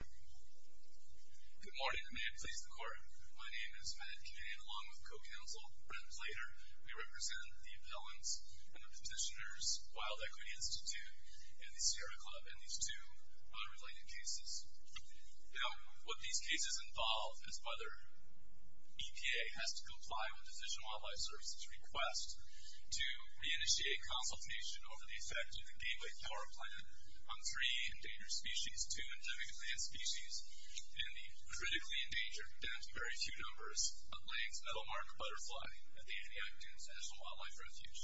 Good morning, and may it please the court. My name is Matt Kinney, and along with co-counsel Brent Blater, we represent the appellants and the petitioners, Wild Equity Institute, and the Sierra Club, and these two unrelated cases. Now, what these cases involve is whether EPA has to comply with the Fish and Wildlife Service's request to re-initiate consultation over the effect of the species in the critically endangered, and in very few numbers, lands that will mark a butterfly at the end of the act as a wildlife refuge.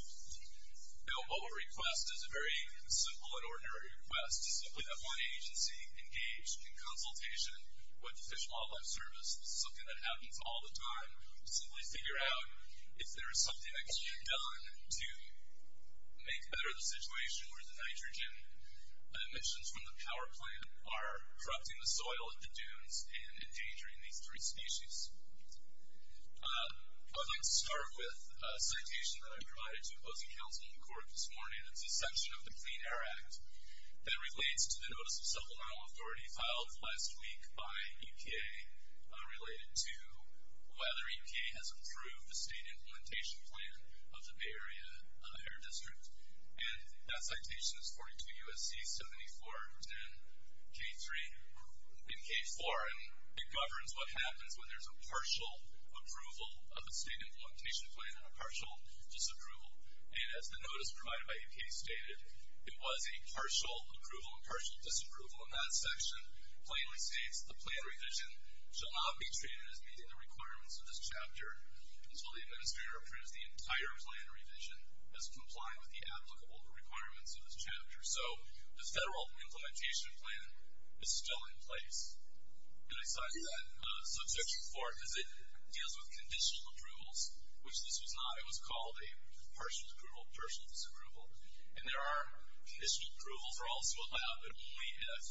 Now, what we'll request is a very simple and ordinary request. Simply have one agency engage in consultation with the Fish and Wildlife Service. This is something that happens all the time. Simply figure out if there is something that can be done to make better the situation where the nitrogen emissions from the power plant are corrupting the soil at the dunes and endangering these three species. I'd like to start with a citation that I provided to opposing counsel in court this morning. It's a section of the Clean Air Act that relates to the notice of supplemental authority filed last week by EPA related to whether EPA has approved the state implementation plan of the Bay Area Air District. And that citation is 42 U.S.C. 7410 K3. In K4, it governs what happens when there's a partial approval of a state implementation plan and a partial disapproval. And as the notice provided by EPA stated, it was a partial approval and partial disapproval in that section plainly states the plan revision shall not be treated as meeting the requirements of this chapter until the administrator approves the entire plan revision as complying with the applicable requirements of this chapter. So, the federal implementation plan is still in place. And I cite that. So, section 4 deals with conditional approvals, which this was not. It was a partial approval, partial disapproval. And there are, issued approvals are also allowed, but only if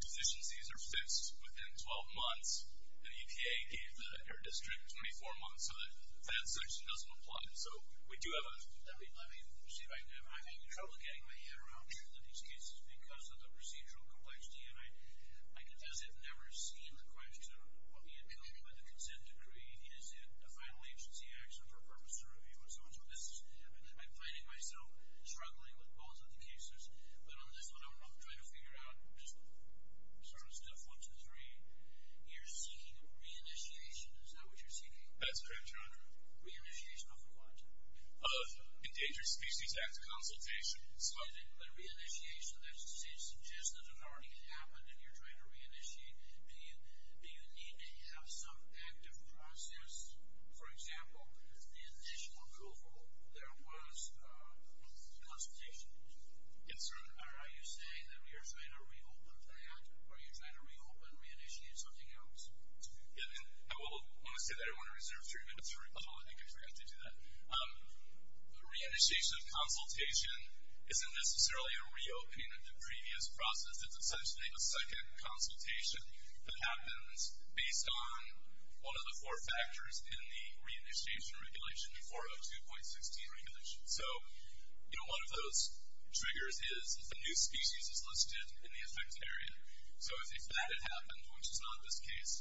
conditions these are fixed within 12 months. And EPA gave the Air District 24 months so that that section doesn't apply. So, we do have a... Let me see if I can... I'm having trouble getting my head around. I'm sure that these cases, because of the procedural complexity, and I guess I've never seen the question, what do you mean by the consent decree? Is it a final agency action for purpose of review? I'm finding myself struggling with both of the cases. But on this one, I'm trying to figure out just sort of step one, two, three. You're seeking re-initiation, is that what you're seeking? That's correct, Your Honor. Re-initiation of what? Endangered Species Act Consultation. So, is it a re-initiation that suggests that it already happened and you're trying to re-initiate? Do you need to have some active process? For example, the initial approval, there was consultation. Yes, sir. Are you saying that we are trying to reopen that, or are you trying to reopen, re-initiate something else? I want to say that I want to reserve three minutes for rebuttal. I think I forgot to do that. Re-initiation of consultation isn't necessarily a re-opening of the previous process. It's essentially a second consultation that happens based on one of the four factors in the re-initiation regulation, the 402.16 regulation. So, you know, one of those triggers is if a new species is listed in the affected area. So if that had happened, which is not this case,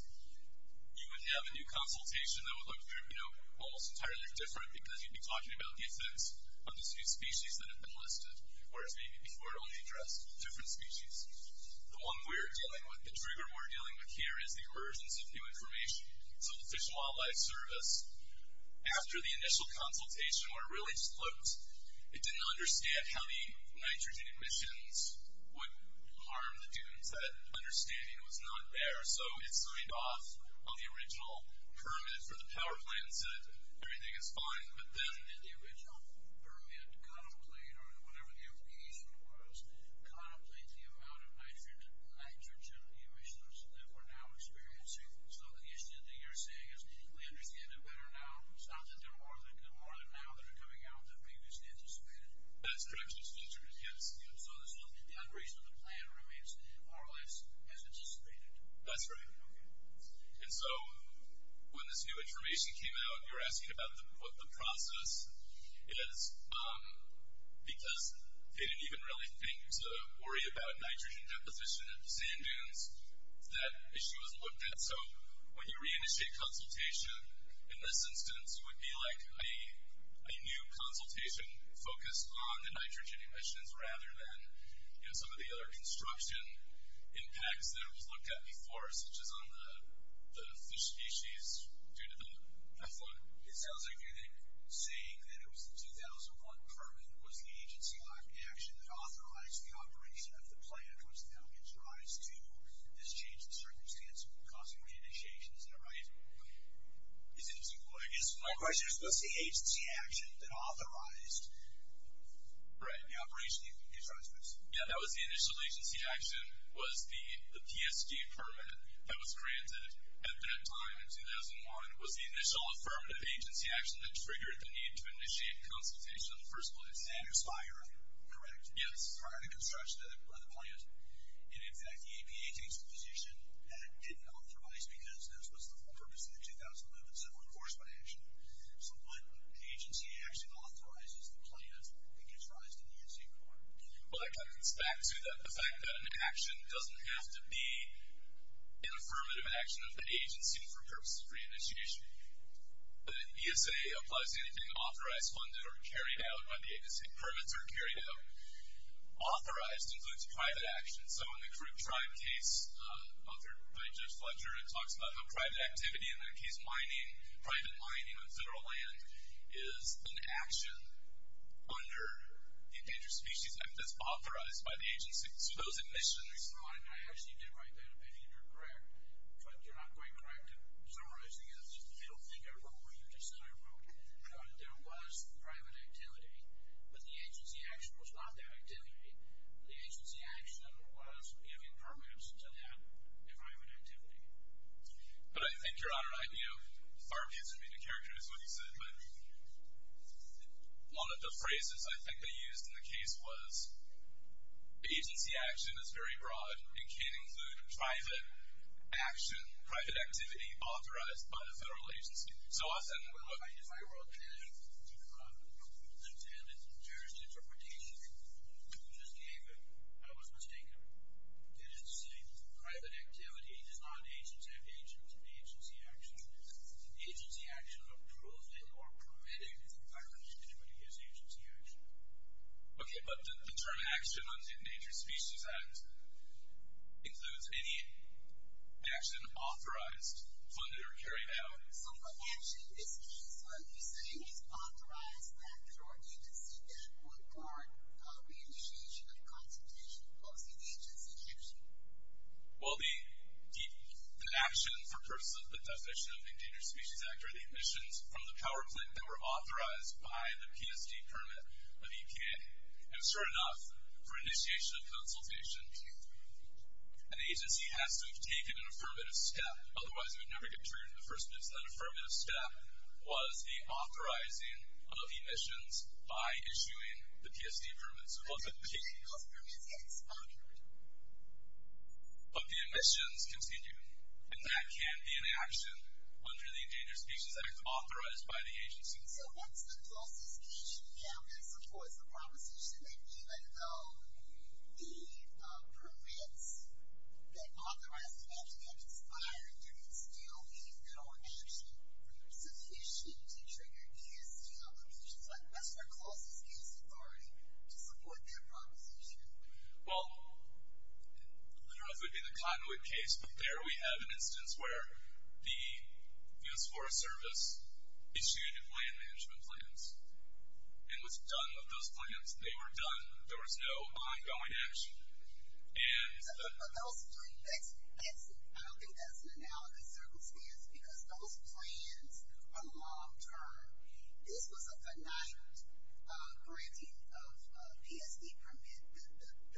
you would have a new consultation that would look almost entirely different because you'd be talking about the effects of this new species that had been listed, whereas maybe before it only addressed different species. The one we're dealing with, the trigger we're dealing with here, is the emergence of new information. So the Fish and Wildlife Service, after the initial consultation, where it really just looked, it didn't understand how many nitrogen emissions would harm the dunes. That understanding was not there. So it signed off on the original permit for the power plant and said everything is fine. But then the original permit contemplated, or whatever the implication was, contemplated the amount of nitrogen emissions that we're now experiencing. So the issue that you're saying is we understand it better now. It's not that there are more than now that are coming out that we just anticipated. That's correct. So the unreason of the plan remains more or less as anticipated. That's right. And so when this new information came out, you're asking about what the process is because they didn't even really think to worry about nitrogen deposition at the sand dunes. That issue was looked at. So when you reinitiate consultation, in this instance, it would be like a new consultation focused on the nitrogen emissions rather than some of the other construction impacts that it was looked at before, such as on the fish species due to the flood. It sounds like you're then saying that it was the 2001 permit was the agency-locked action that authorized the operation of the plan, which now gives rise to this change in circumstance causing the initiations that arise. Is it too late? My question is, was the agency action that authorized the operation, it gives rise to this? Yeah, that was the initial agency action was the PSD permit that was granted at that time in 2001 was the initial affirmative agency action that triggered the need to initiate consultation on the first place. And expire. Correct. Prior to construction of the plan. And, in fact, the APA takes a position that it didn't authorize because this was the purpose of the 2001 Civil Enforcement Action. So what agency action authorizes the plan that gives rise to the NC report? Well, that comes back to the fact that an action doesn't have to be an affirmative action of the agency for purposes of reinitiation. The BSA applies anything authorized, funded, or carried out by the agency. Permits are carried out. Authorized includes private action. So in the Crook Tribe case authored by Judge Fletcher, it talks about how private activity, in that case mining, private mining on federal land, is an action under the Endangered Species Act that's authorized by the agency. So those admissions. I actually did write that opinion. You're correct, but you're not quite correct in summarizing it. I don't think I wrote what you just said. I wrote that there was private activity, but the agency action was not that activity. The agency action was giving permits to that environment activity. But I think you're on it right. You know, Farvey is going to be the characteristic of what you said, but a lot of the phrases I think they used in the case was agency action is very broad and can include private action, private activity authorized by the federal agency. So I said, well, what if I wrote that? I wrote that it's an Endangered Interpretation, and you just gave it. I was mistaken. You didn't say private activity is not an agency action. Agency action approving or permitting the environment activity is agency action. Okay, but the term action under the Endangered Species Act includes any action authorized, funded, or carried out. So, actually, this case, what you're saying is authorized by a federal agency and that would guard the initiation of consultation. What was the agency action? Well, the action for purpose of the definition of the Endangered Species Act are the emissions from the power plant that were authorized by the PSD permit of the EPA. And sure enough, for initiation of consultation, an agency has to have taken an affirmative step. Otherwise, it would never get triggered in the first place. That affirmative step was the authorizing of emissions by issuing the PSD permit. So both of those permits get expunged. But the emissions continue, and that can't be an action under the Endangered Species Act authorized by the agency. So once the bill is issued now, that supports the proposition that even though the permits that authorize the act have expired, there can still be no action sufficient to trigger PSD applications. That's where clauses use authority to support that proposition. Well, I don't know if it would be the conduit case, but there we have an instance where the U.S. Forest Service issued land management plans and was done with those plans. They were done. There was no ongoing action. But those three, I don't think that's an analogous circumstance because those plans are long-term. This was a finite granting of PSD permit.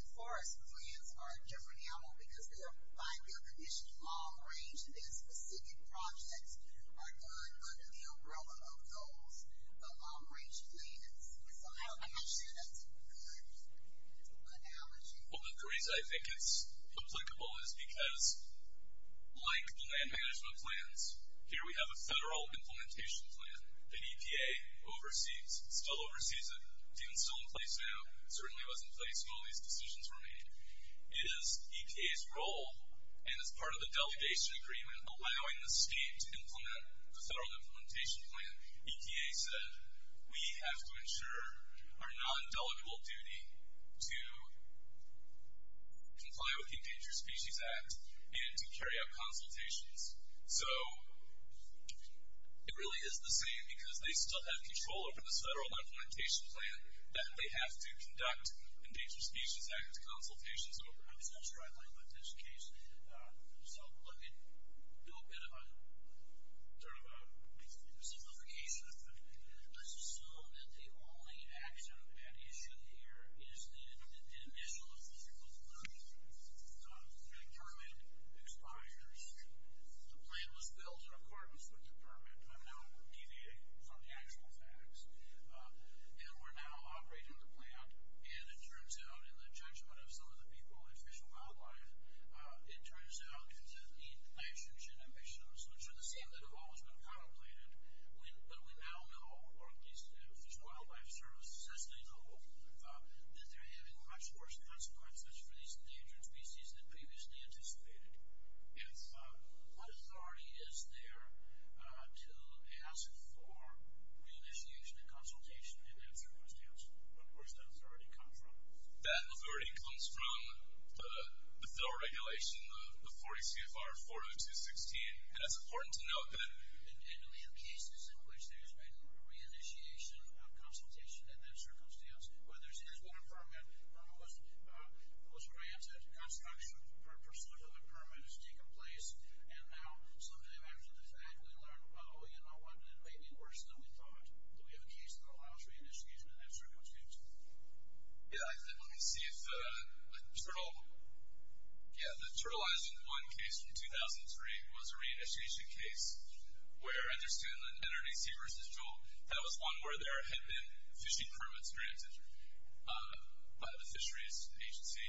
The forest plans are different now because they're by bill condition long-range, and specific projects are done under the umbrella of those long-range plans. I'm not sure that's a good analogy. Well, the reason I think it's applicable is because, like land management plans, here we have a federal implementation plan. The EPA oversees it, still oversees it. It's still in place now. It certainly was in place when all these decisions were made. It is EPA's role, and it's part of the delegation agreement, allowing the state to implement the federal implementation plan. EPA said we have to ensure our non-delegable duty to comply with the Endangered Species Act and to carry out consultations. So it really is the same because they still have control over this federal implementation plan that they have to conduct Endangered Species Act consultations over. I'm just not sure I understood this case. So let me do a bit of a sort of a simplification. I assume that the only accident we had issued here is the initial official agreement. The permit expires. The plan was built in accordance with the permit. I'm now deviating from the actual facts, and we're now operating the plan, and it turns out, in the judgment of some of the people in Fish and Wildlife, it turns out that the actions and ambitions, which are the same that have always been contemplated, but we now know, or at least the Fish and Wildlife Service says they know, that they're having much worse consequences for these endangered species than previously anticipated. What authority is there to ask for re-initiation and consultation? Where does that authority come from? That authority comes from the federal regulation, the 40 CFR 40216, and it's important to note that in cases in which there's been a re-initiation of consultation in that circumstance, whether it's his own permit or it was granted construction or a pursuant to the permit has taken place, and now some of them, after the fact, we learn, oh, you know what, it may be worse than we thought. Do we have a case in the wild for re-initiation? I'm not sure which case. Yeah, let me see if the turtle... Yeah, the Turtle Island 1 case from 2003 was a re-initiation case where I understand that NRDC versus Joel, that was one where there had been fishing permits granted by the fisheries agency.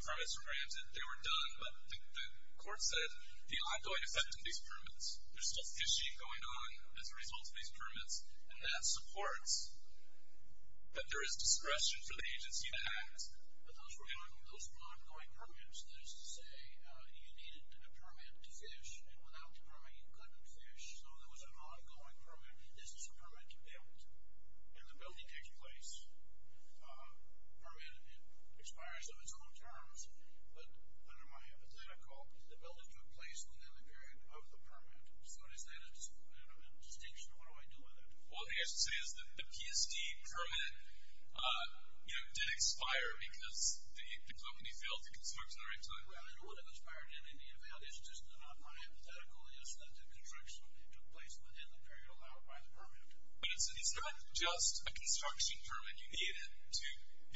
Permits were granted, they were done, but the court said the ongoing effect on these permits, there's still fishing going on as a result of these permits, and that supports that there is discretion for the agency to act, but those were ongoing permits. That is to say, you needed a permit to fish, and without a permit you couldn't fish, so there was an ongoing permit. This is a permit to build, and the building takes place. Permit expires on its own terms, but under my hypothetical, the building took place within the period of the permit, so is that a distinction? What do I do with it? Well, the thing I should say is that the PSD permit did expire because the company failed to construct at the right time. Well, it wouldn't have expired in any event. It's just that my hypothetical is that the construction took place within the period allowed by the permit. But it's not just a construction permit. You need it to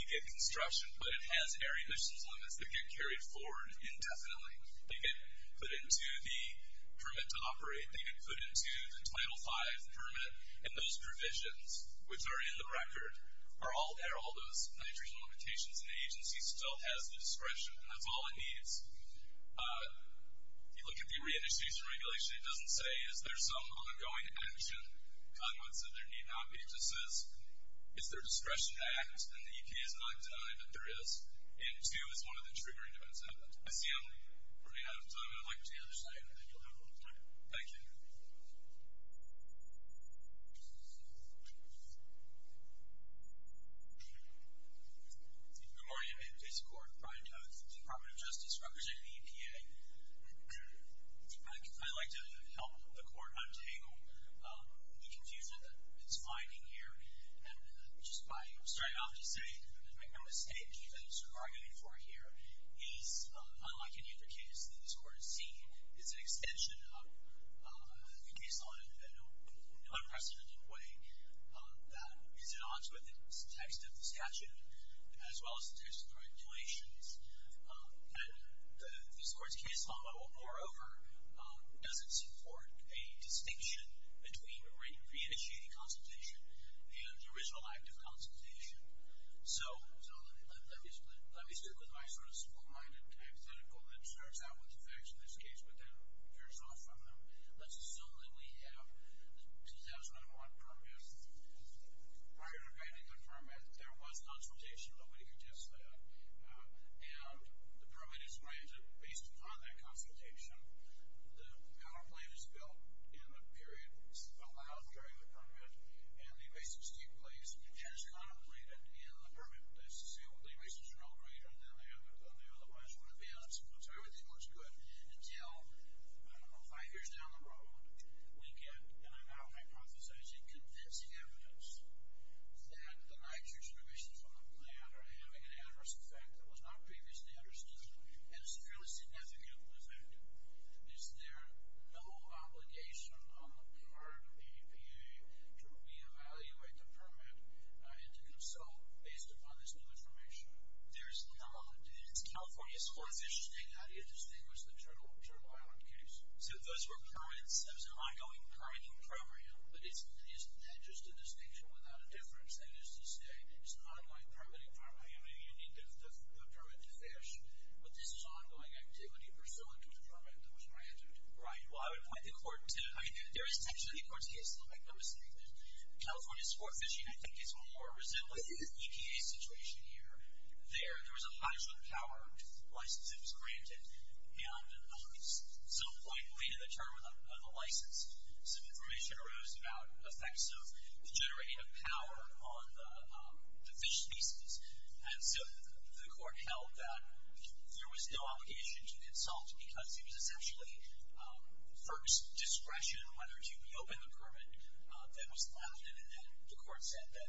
begin construction, but it has air emissions limits that get carried forward indefinitely. They get put into the permit to operate. They get put into the Title V permit, and those provisions, which are in the record, are all air, all those nitrogen limitations, and the agency still has the discretion, and that's all it needs. If you look at the re-initiation regulation, it doesn't say, is there some ongoing action, but I'm going to say there need not be. It just says, is there a discretion to act, and the EPA has not done it, but there is, and two is one of the triggering events of it. I see. All right. I'd like to understand. You'll have a little time. Thank you. Good morning. I'm in case court. Brian Toth, Department of Justice, representing the EPA. I'd like to help the court untangle the confusion that it's finding here, and just by straight off to say, I'm going to say that the evidence we're arguing for here is, unlike any other case that this Court has seen, is an extension of the case law in an unprecedented way. It's an ongoing text of the statute, as well as the text of the regulations, and this Court's case law, moreover, doesn't support a distinction between re-initiating consultation and the original act of consultation. So let me start with my sort of small-minded hypothetical that starts out with the facts of this case, but then veers off from them. Let's assume that we have the 2001 permit. Prior to granting the permit, there was consultation. Nobody could test that. And the permit is granted based upon that consultation. The counterplate is built in the period allowed during the permit, and the erasers take place as contemplated in the permit. Let's assume the erasers are no greater than they otherwise would have been, so everything looks good, until, I don't know, five years down the road, we get, and I'm not hypothesizing, convincing evidence that the nitrogen emissions from the plant are having an adverse effect that was not previously understood, and it's a fairly significant effect. Is there no obligation on the part of the EPA to re-evaluate the permit and to consult based upon this new information? There's none. It's more efficient to take that and distinguish the Turtle Island case. So those were permits, that was an ongoing permitting program, but isn't that just a distinction without a difference? That is to say, it's an ongoing permitting program. I mean, you need the permit to fish, but this is ongoing activity pursuant to a permit that was granted. Right, well, I would point the court to it. I mean, there is a distinction in the court's case, and I'll make no mistake that California sport fishing, I think, is more resembling the EPA situation here. There, there was a hydrogen-powered license that was granted, and at some point, we needed a term of the license, so information arose about effects of generating a power on the fish species, and so the court held that there was no obligation to insult because it was essentially first discretion whether to reopen the permit that was granted, and then the court said that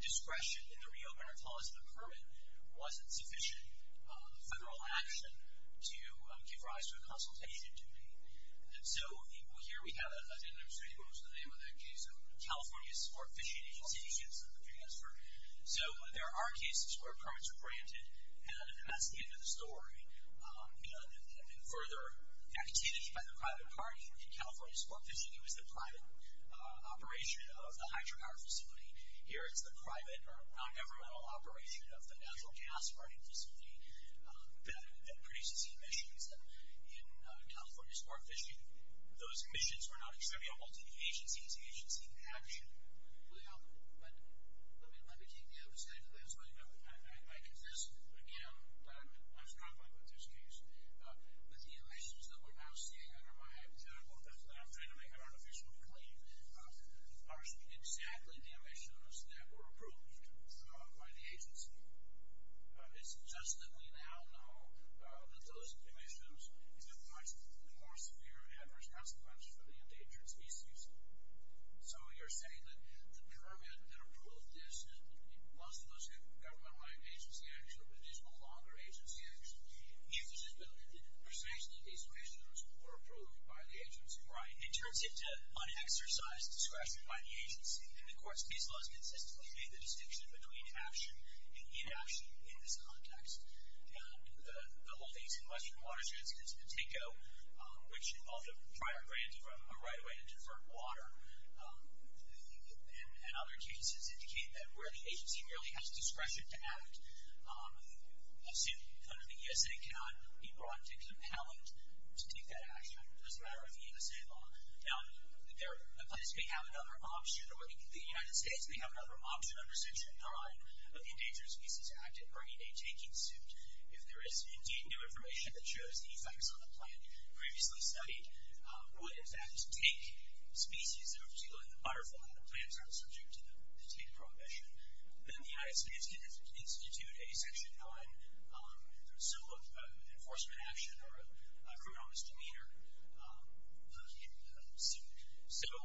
discretion in the reopener clause of the permit wasn't sufficient federal action to give rise to a consultation duty. And so here we have it. I didn't understand what was the name of that case. It was the California Sport Fishing Agency. You should have seen the transfer. So there are cases where permits are granted, and that's the end of the story. And further activity by the private party in California sport fishing, it was the private operation of the hydropower facility. Here it's the private non-governmental operation of the natural gas burning facility that produces emissions in California sport fishing. I mean, those emissions were not acceptable to the agency. It's agency action. Well, but let me keep you up-to-date. That's why I exist again. I've gone back with this case. But the emissions that we're now seeing under my hypothetical effect that I'm trying to make an artificial claim are exactly the emissions that were approved by the agency. It's just that we now know that those emissions have much more severe and adverse consequences for the endangered species. So you're saying that the permit that approved this was supposed to be a government-wide agency action, but it is no longer agency action. It's just that the percentage of these emissions were approved by the agency. Right. It turns into unexercised discretion by the agency. And, of course, these laws consistently make the distinction between action and inaction in this context. The whole thing is in western watersheds in San Francisco, which involve the prior grant of a right-of-way to divert water. And other cases indicate that where the agency merely has discretion to act, a suit under the ESA cannot be brought to compel it to take that action. It doesn't matter what the ESA law. Now, the United States may have another option under Section 9 of the Endangered Species Act regarding a taking suit if there is indeed new information that shows the effects on a plant previously studied would in fact take species that are particularly in the butterfly when the plants are subject to the taken prohibition. Then the United States can institute a Section 9 similar to an enforcement action or a criminal misdemeanor suit.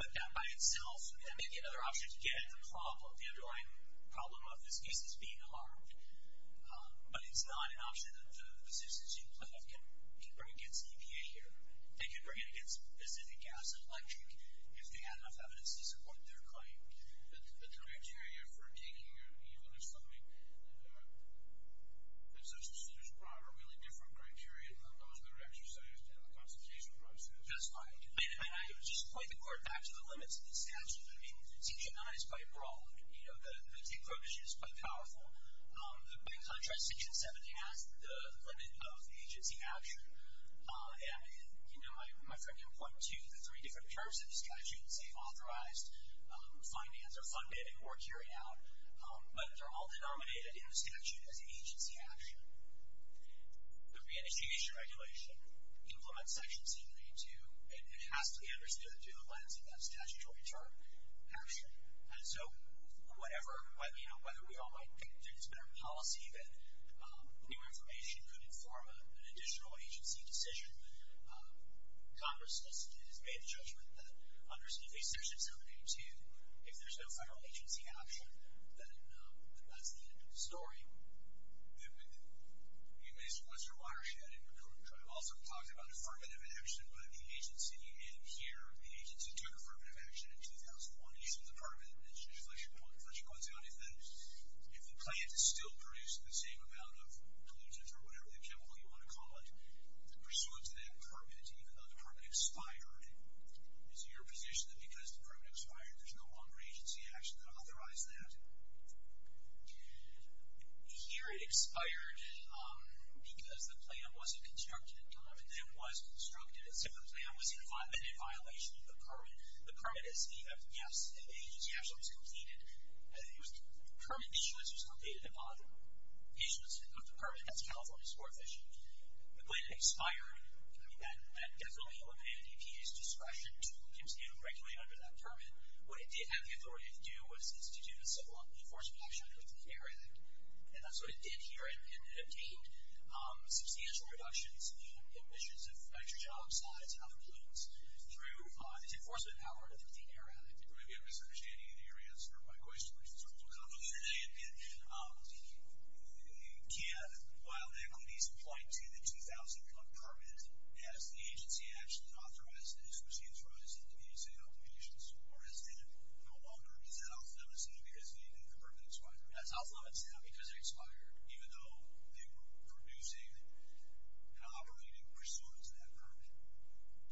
But that by itself may be another option to get at the underlying problem of this case as being harmed. But it's not an option that the physicians you have can bring against the EPA here. They can bring it against Pacific Gas and Electric if they have enough evidence to support their claim. The criteria for taking, even if there's something, there's probably a really different criteria than those that are exercised in the consultation process. That's right. And I would just point the court back to the limits of the statute. I mean, Section 9 is quite broad. You know, the take prohibition is quite powerful. By contrast, Section 7 has the limit of agency action. The statutes, they've authorized, financed, or funded, or carried out. But they're all denominated in the statute as agency action. The re-enactment regulation implements Section 782 and it has to be understood through the lens of that statutory term, action. And so whatever, you know, whether we all might think that it's better policy than new information could inform an additional agency decision, Congress has made the judgment that under Section 782, if there's no federal agency action, then that's the end of the story. Mr. Weiss, you're a watershed in recruitment. I've also talked about affirmative action, but the agency in here, the agency took affirmative action in 2001. You said the part of it that's just like you pointed out, if the plant is still producing the same amount of pollutants or whatever chemical you want to call it, the pursuance of that permit, even though the permit expired, is it your position that because the permit expired, there's no longer agency action to authorize that? Here it expired because the plant wasn't constructed in time and then was constructed. And so the plant was in violation of the permit. The permit is the, yes, the agency action was completed. The permit issuance was completed upon issuance of the permit. That's California's fourth issue. The plant expired. I mean, that definitely would be at EPA's discretion to continue to regulate under that permit. What it did have the authority to do was to do a civil law enforcement action related to the air addict. And that's what it did here, and it obtained substantial reductions in emissions of nitrogen oxides, alpha pollutants, through its enforcement power of the air addict. Maybe I'm misunderstanding your answer to my question, which is a little complicated. In my opinion, you can't, while there could be some flight to the 2,000-foot permit, ask the agency action to authorize this, which means there is an agency obligation to support this. And no longer is that off limits to you because the permit expired? That's off limits to them because it expired, even though they were producing and operating pursuant to that permit.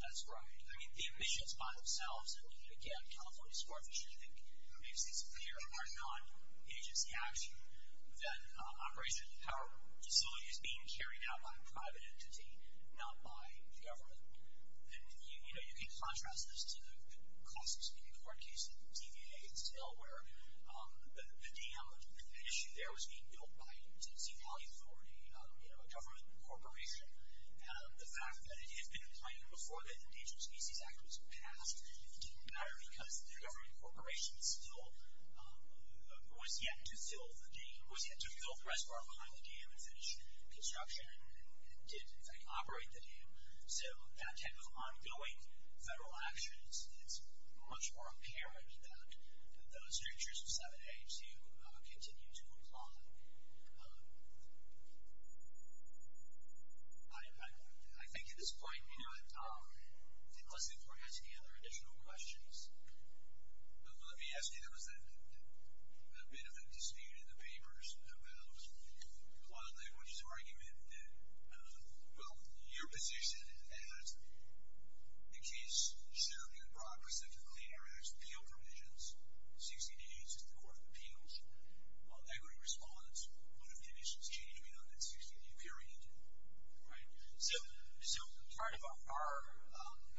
That's right. I mean, the emissions by themselves, again, California's fourth issue, which I think makes this clear, are non-agency action. Then operation of the power facility is being carried out by a private entity, not by the government. And you can contrast this to the cost of speaking court case in TVA, where the dam, the issue there was being built by the Tennessee Valley Authority, a government corporation. The fact that it had been appointed before the Endangered Species Act was passed didn't matter because the government corporation still was yet to fill the reservoir behind the dam and finish construction and operate the dam. So that type of ongoing federal action, it's much more apparent that those strictures of 7A to continue to apply. I think at this point, unless if we're asking other additional questions. Let me ask you, there was a bit of a dispute in the papers about the law language's argument that, well, your position is that the case shall be in progress if the Clean Air Act's 60 days is the Court of Appeals. Equity response would have conditions changing on that 60-day period. So part of our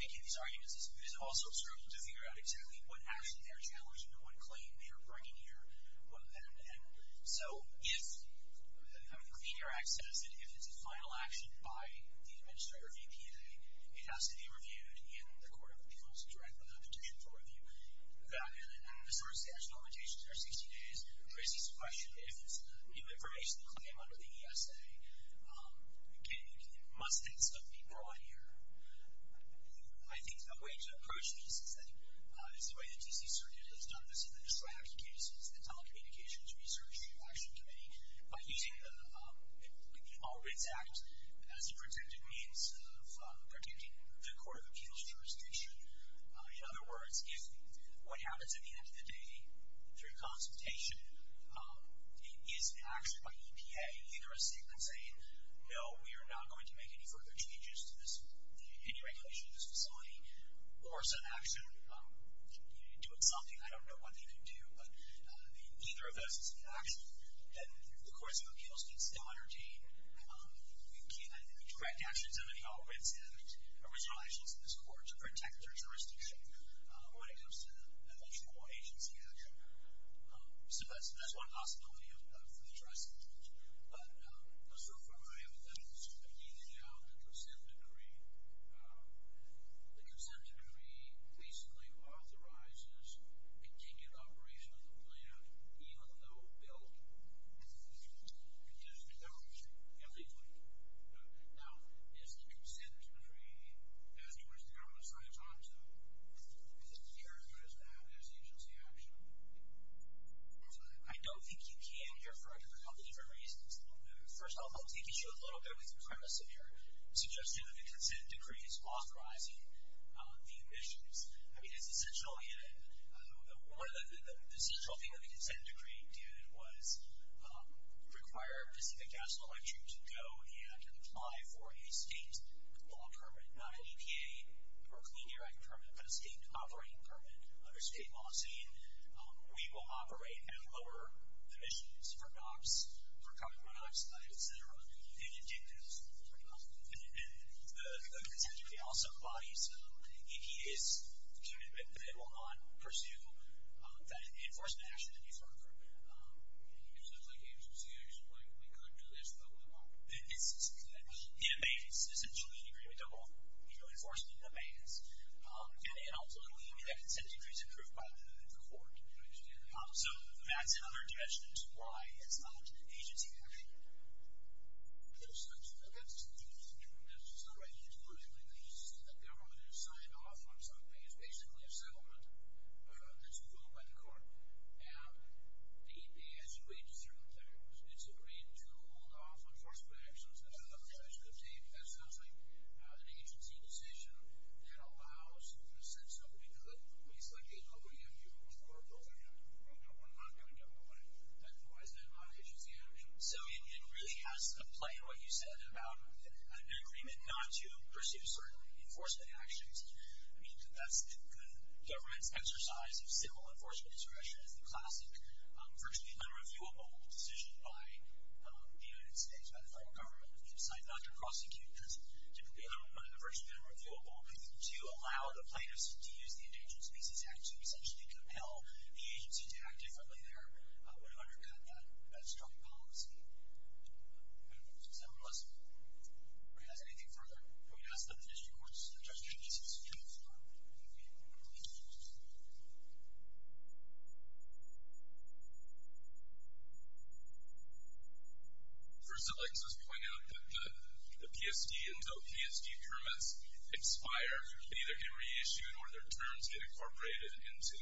making these arguments is also sort of to figure out exactly what action they're challenging and what claim they are bringing here. So if the Clean Air Act says that if it's a final action by the Administrator of EPA, it has to be reviewed in the Court of Appeals directly with a petition for review. And as far as the actual limitations for 60 days, there is this question if it's a new information claim under the ESA, it must then be brought here. I think a way to approach this is the way the D.C. Circuit has done this in the distract cases, the Telecommunications Research Action Committee, by using the All Writs Act as a protected means of protecting the Court of Appeals jurisdiction. In other words, if what happens at the end of the day, through consultation, is an action by EPA, either a statement saying, no, we are not going to make any further changes to any regulation of this facility, or some action doing something, I don't know what they could do, but neither of those is an action. And the Courts of Appeals can still entertain direct actions under the All Writs Act, original actions in this Court, to protect their jurisdiction when it comes to an actual agency action. So that's one possibility for the jurisdiction. But as far as I am concerned, I've detailed the consent decree. The consent decree basically authorizes continued operation of the plant, even though billed to the federal agency. Yeah, legally. Now, is the consent decree, as you were saying earlier, Tom, so is it as clear as that as agency action? I don't think you can here for a couple of different reasons. First of all, I'll teach you a little bit with the premise of your suggestion that the consent decree is authorizing the emissions. I mean, it's essential, and one of the essential things that the consent decree did was require Pacific Gas and Electric to go and apply for a state law permit, not an EPA or Clean Air Act permit, but a state operating permit under state policy. We will operate and lower emissions for NOx, for carbon monoxide, et cetera. And the consent decree also embodies that it will not pursue that enforcement action any further. So it's like agency action. We could do this, but we won't. It's essentially an agreement that will enforce the demands, and ultimately that consent decree is approved by the court. I understand. So that's in other directions. Why is not agency action? That's a confusing term. That's just not right. You just put it in there. You just say that they're going to sign off on something. It's basically a settlement that's approved by the court. And the answer to agency action is agreed to hold off enforcement actions. That's another direction of thinking. That sounds like an agency decision that allows the consent decree to be selected, but we have to approve both of them. We're not going to. Why is that not agency action? So it really has to play, what you said, about an agreement not to pursue certain enforcement actions. I mean, the government's exercise of civil enforcement insurrection is the classic virtually unreviewable decision by the United States, by the federal government, to decide not to prosecute because typically they're virtually unreviewable. And to allow the plaintiffs to use the Indigent Species Act to essentially compel the agency to act differently there would undercut that strong policy. Does anyone else have anything further? Can we ask the district courts, the district agencies, to jump in on one of these issues? First, I'd like to just point out that the PSD until PSD permits expire, either get reissued or their terms get incorporated into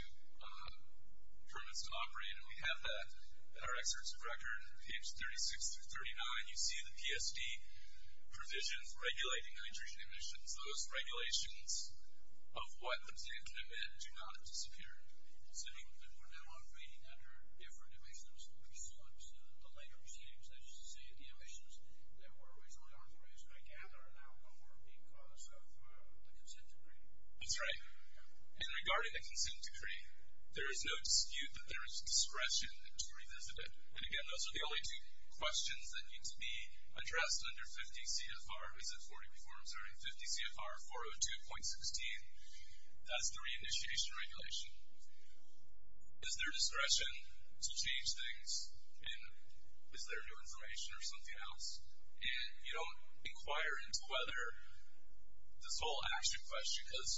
permits that operate. And we have that in our excerpts of record, page 36 through 39. You see the PSD provisions regulating the nitrogen emissions. Those regulations of what the plant can emit do not disappear. We're now operating under different emissions. Delay or change, as you say, of the emissions that were originally authorized by Canada are now no more because of the consent decree. That's right. And regarding the consent decree, there is no dispute that there is discretion to revisit it. And, again, those are the only two questions that need to be addressed under 50 CFR. Is it 40 performs during 50 CFR 402.16? That's the reinitiation regulation. Is there discretion to change things? And is there new information or something else? And you don't inquire into whether this will ask you a question because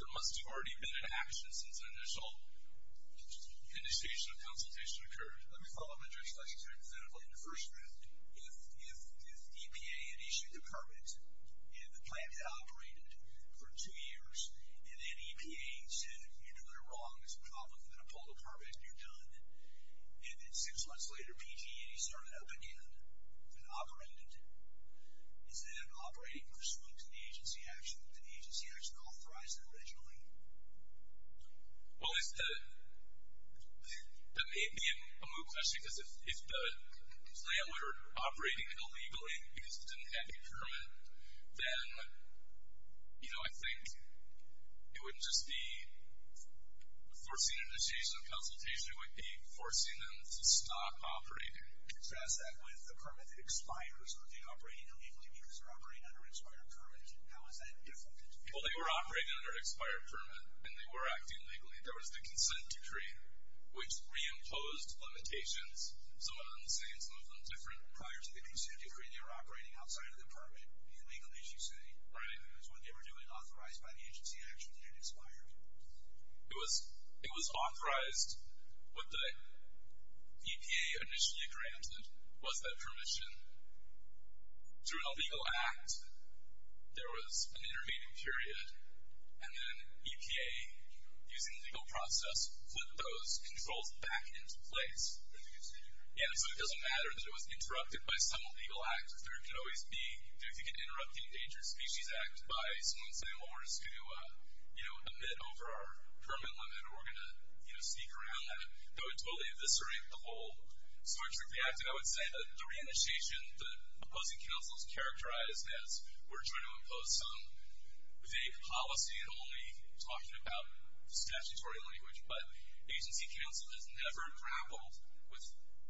there must have already been an action since the initial initiation of consultation occurred. Let me follow up on your explanation. So, in the first round, is EPA an issue to permit? And the plant operated for two years, and then EPA said, you know, they're wrong. It's a problem. I'm going to pull it apart, and you're done. And then six months later, PTA started up again and operated. Is that operating pursuant to the agency action that the agency action authorized originally? Well, it would be a moot question because if the plant we're operating illegally because it didn't have a permit, then, you know, I think it wouldn't just be forcing initiation of consultation. It would be forcing them to stop operating. Can you address that with the permit expiring pursuant to operating illegally, because they're operating under expired permit? How is that different? Well, they were operating under expired permit, and they were acting legally. There was the consent decree, which reimposed limitations. Some of them the same, some of them different. Prior to the consent decree, they were operating outside of the permit illegally, as you say. Right. That's what they were doing, authorized by the agency action, and it expired. It was authorized. What the EPA initially granted was that permission. Through a legal act, there was an intervening period, and then EPA, using the legal process, put those controls back into place. Yeah, so it doesn't matter that it was interrupted by some legal act. There could always be, if you can interrupt the Endangered Species Act by someone saying, well, we're just going to, you know, omit over our permit limit, or we're going to, you know, sneak around that. That would totally eviscerate the whole. So I would say that the re-initiation, the opposing counsel's characterized as, we're trying to impose some vague policy and only talking about statutory language, but agency counsel has never grappled with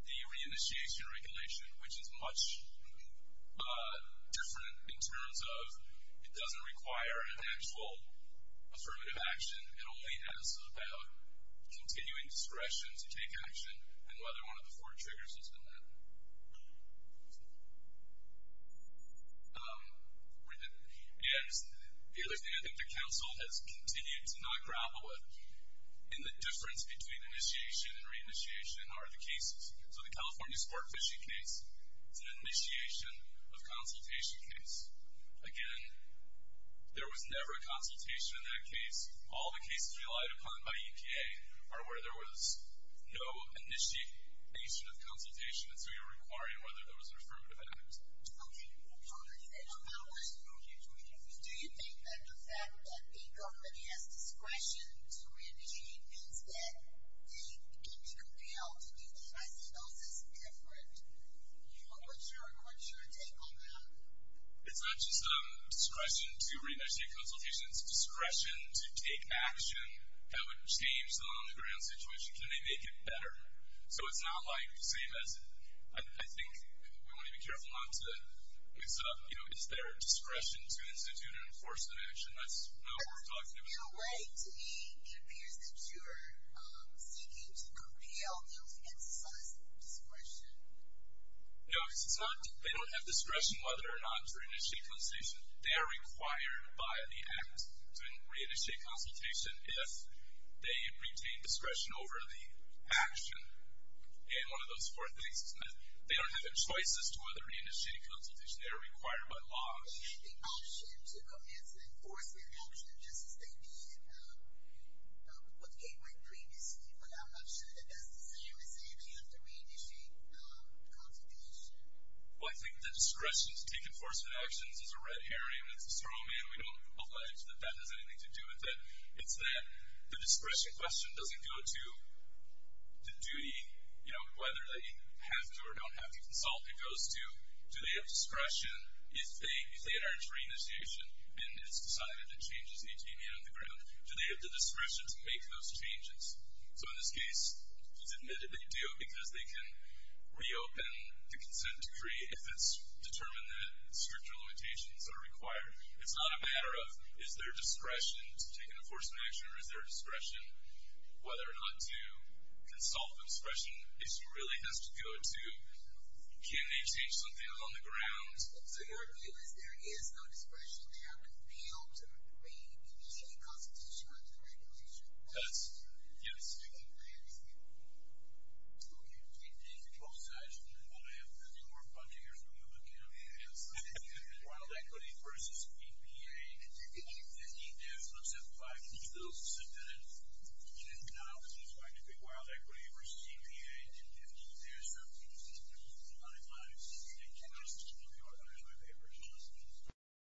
the re-initiation regulation, which is much different in terms of, it doesn't require an actual affirmative action. It only has about continuing discretion to take action and whether one of the four triggers has been met. The other thing, I think, the counsel has continued to not grapple with. In the difference between initiation and re-initiation, how are the cases? So the California sport fishing case is an initiation of consultation case. Again, there was never a consultation in that case. All the cases relied upon by EPA are where there was no initiation of consultation, and so you're requiring whether there was an affirmative action. Okay. Congresswoman, do you think that the fact that the government has discretion to re-initiate means that they can be compelled to do the initiation effort? What's your take on that? It's not just discretion to re-initiate consultations. It's discretion to take action that would change the on-the-ground situation to make it better. So it's not like the same as... I think we want to be careful not to... It's their discretion to institute and enforce the action. That's not what we're talking about. In a way, to me, it appears that you're seeking to compel them to insist discretion. No, because they don't have discretion whether or not to re-initiate consultation. They are required by the Act to re-initiate consultation if they retain discretion over the action in one of those four things. They don't have choices to whether to re-initiate consultation. They are required by law. The option to enforce their action is just maybe what came with previously, but I'm not sure that that's the same as if you have to re-initiate consultation. Well, I think the discretion to take enforcement actions is a red herring. It's a straw man. We don't allege that that has anything to do with it. It's that the discretion question doesn't go to the duty, you know, whether they have to or don't have to consult. It goes to do they have discretion if they aren't re-initiated and it's decided that changes need to be made on the ground. Do they have the discretion to make those changes? So in this case, it's admittedly due because they can reopen the consent decree if it's determined that stricter limitations are required. It's not a matter of is there discretion to take enforcement action, or is there discretion whether or not to consult the discretion. It really has to go to can they change something on the ground? So your view is there is no discretion. They are compelled to re-initiate a constitutional act of regulation. Yes. I understand. Oh, yeah. The control side, I have nothing more fun to hear from you. Look at him. He has wild equity versus EPA. And he does look simplified. He's a little specific in his analysis. He's trying to pick wild equity versus EPA. And he does have a few things to do with money matters. He's a good guy. He's a good guy. I love him. I think we're just as good as him.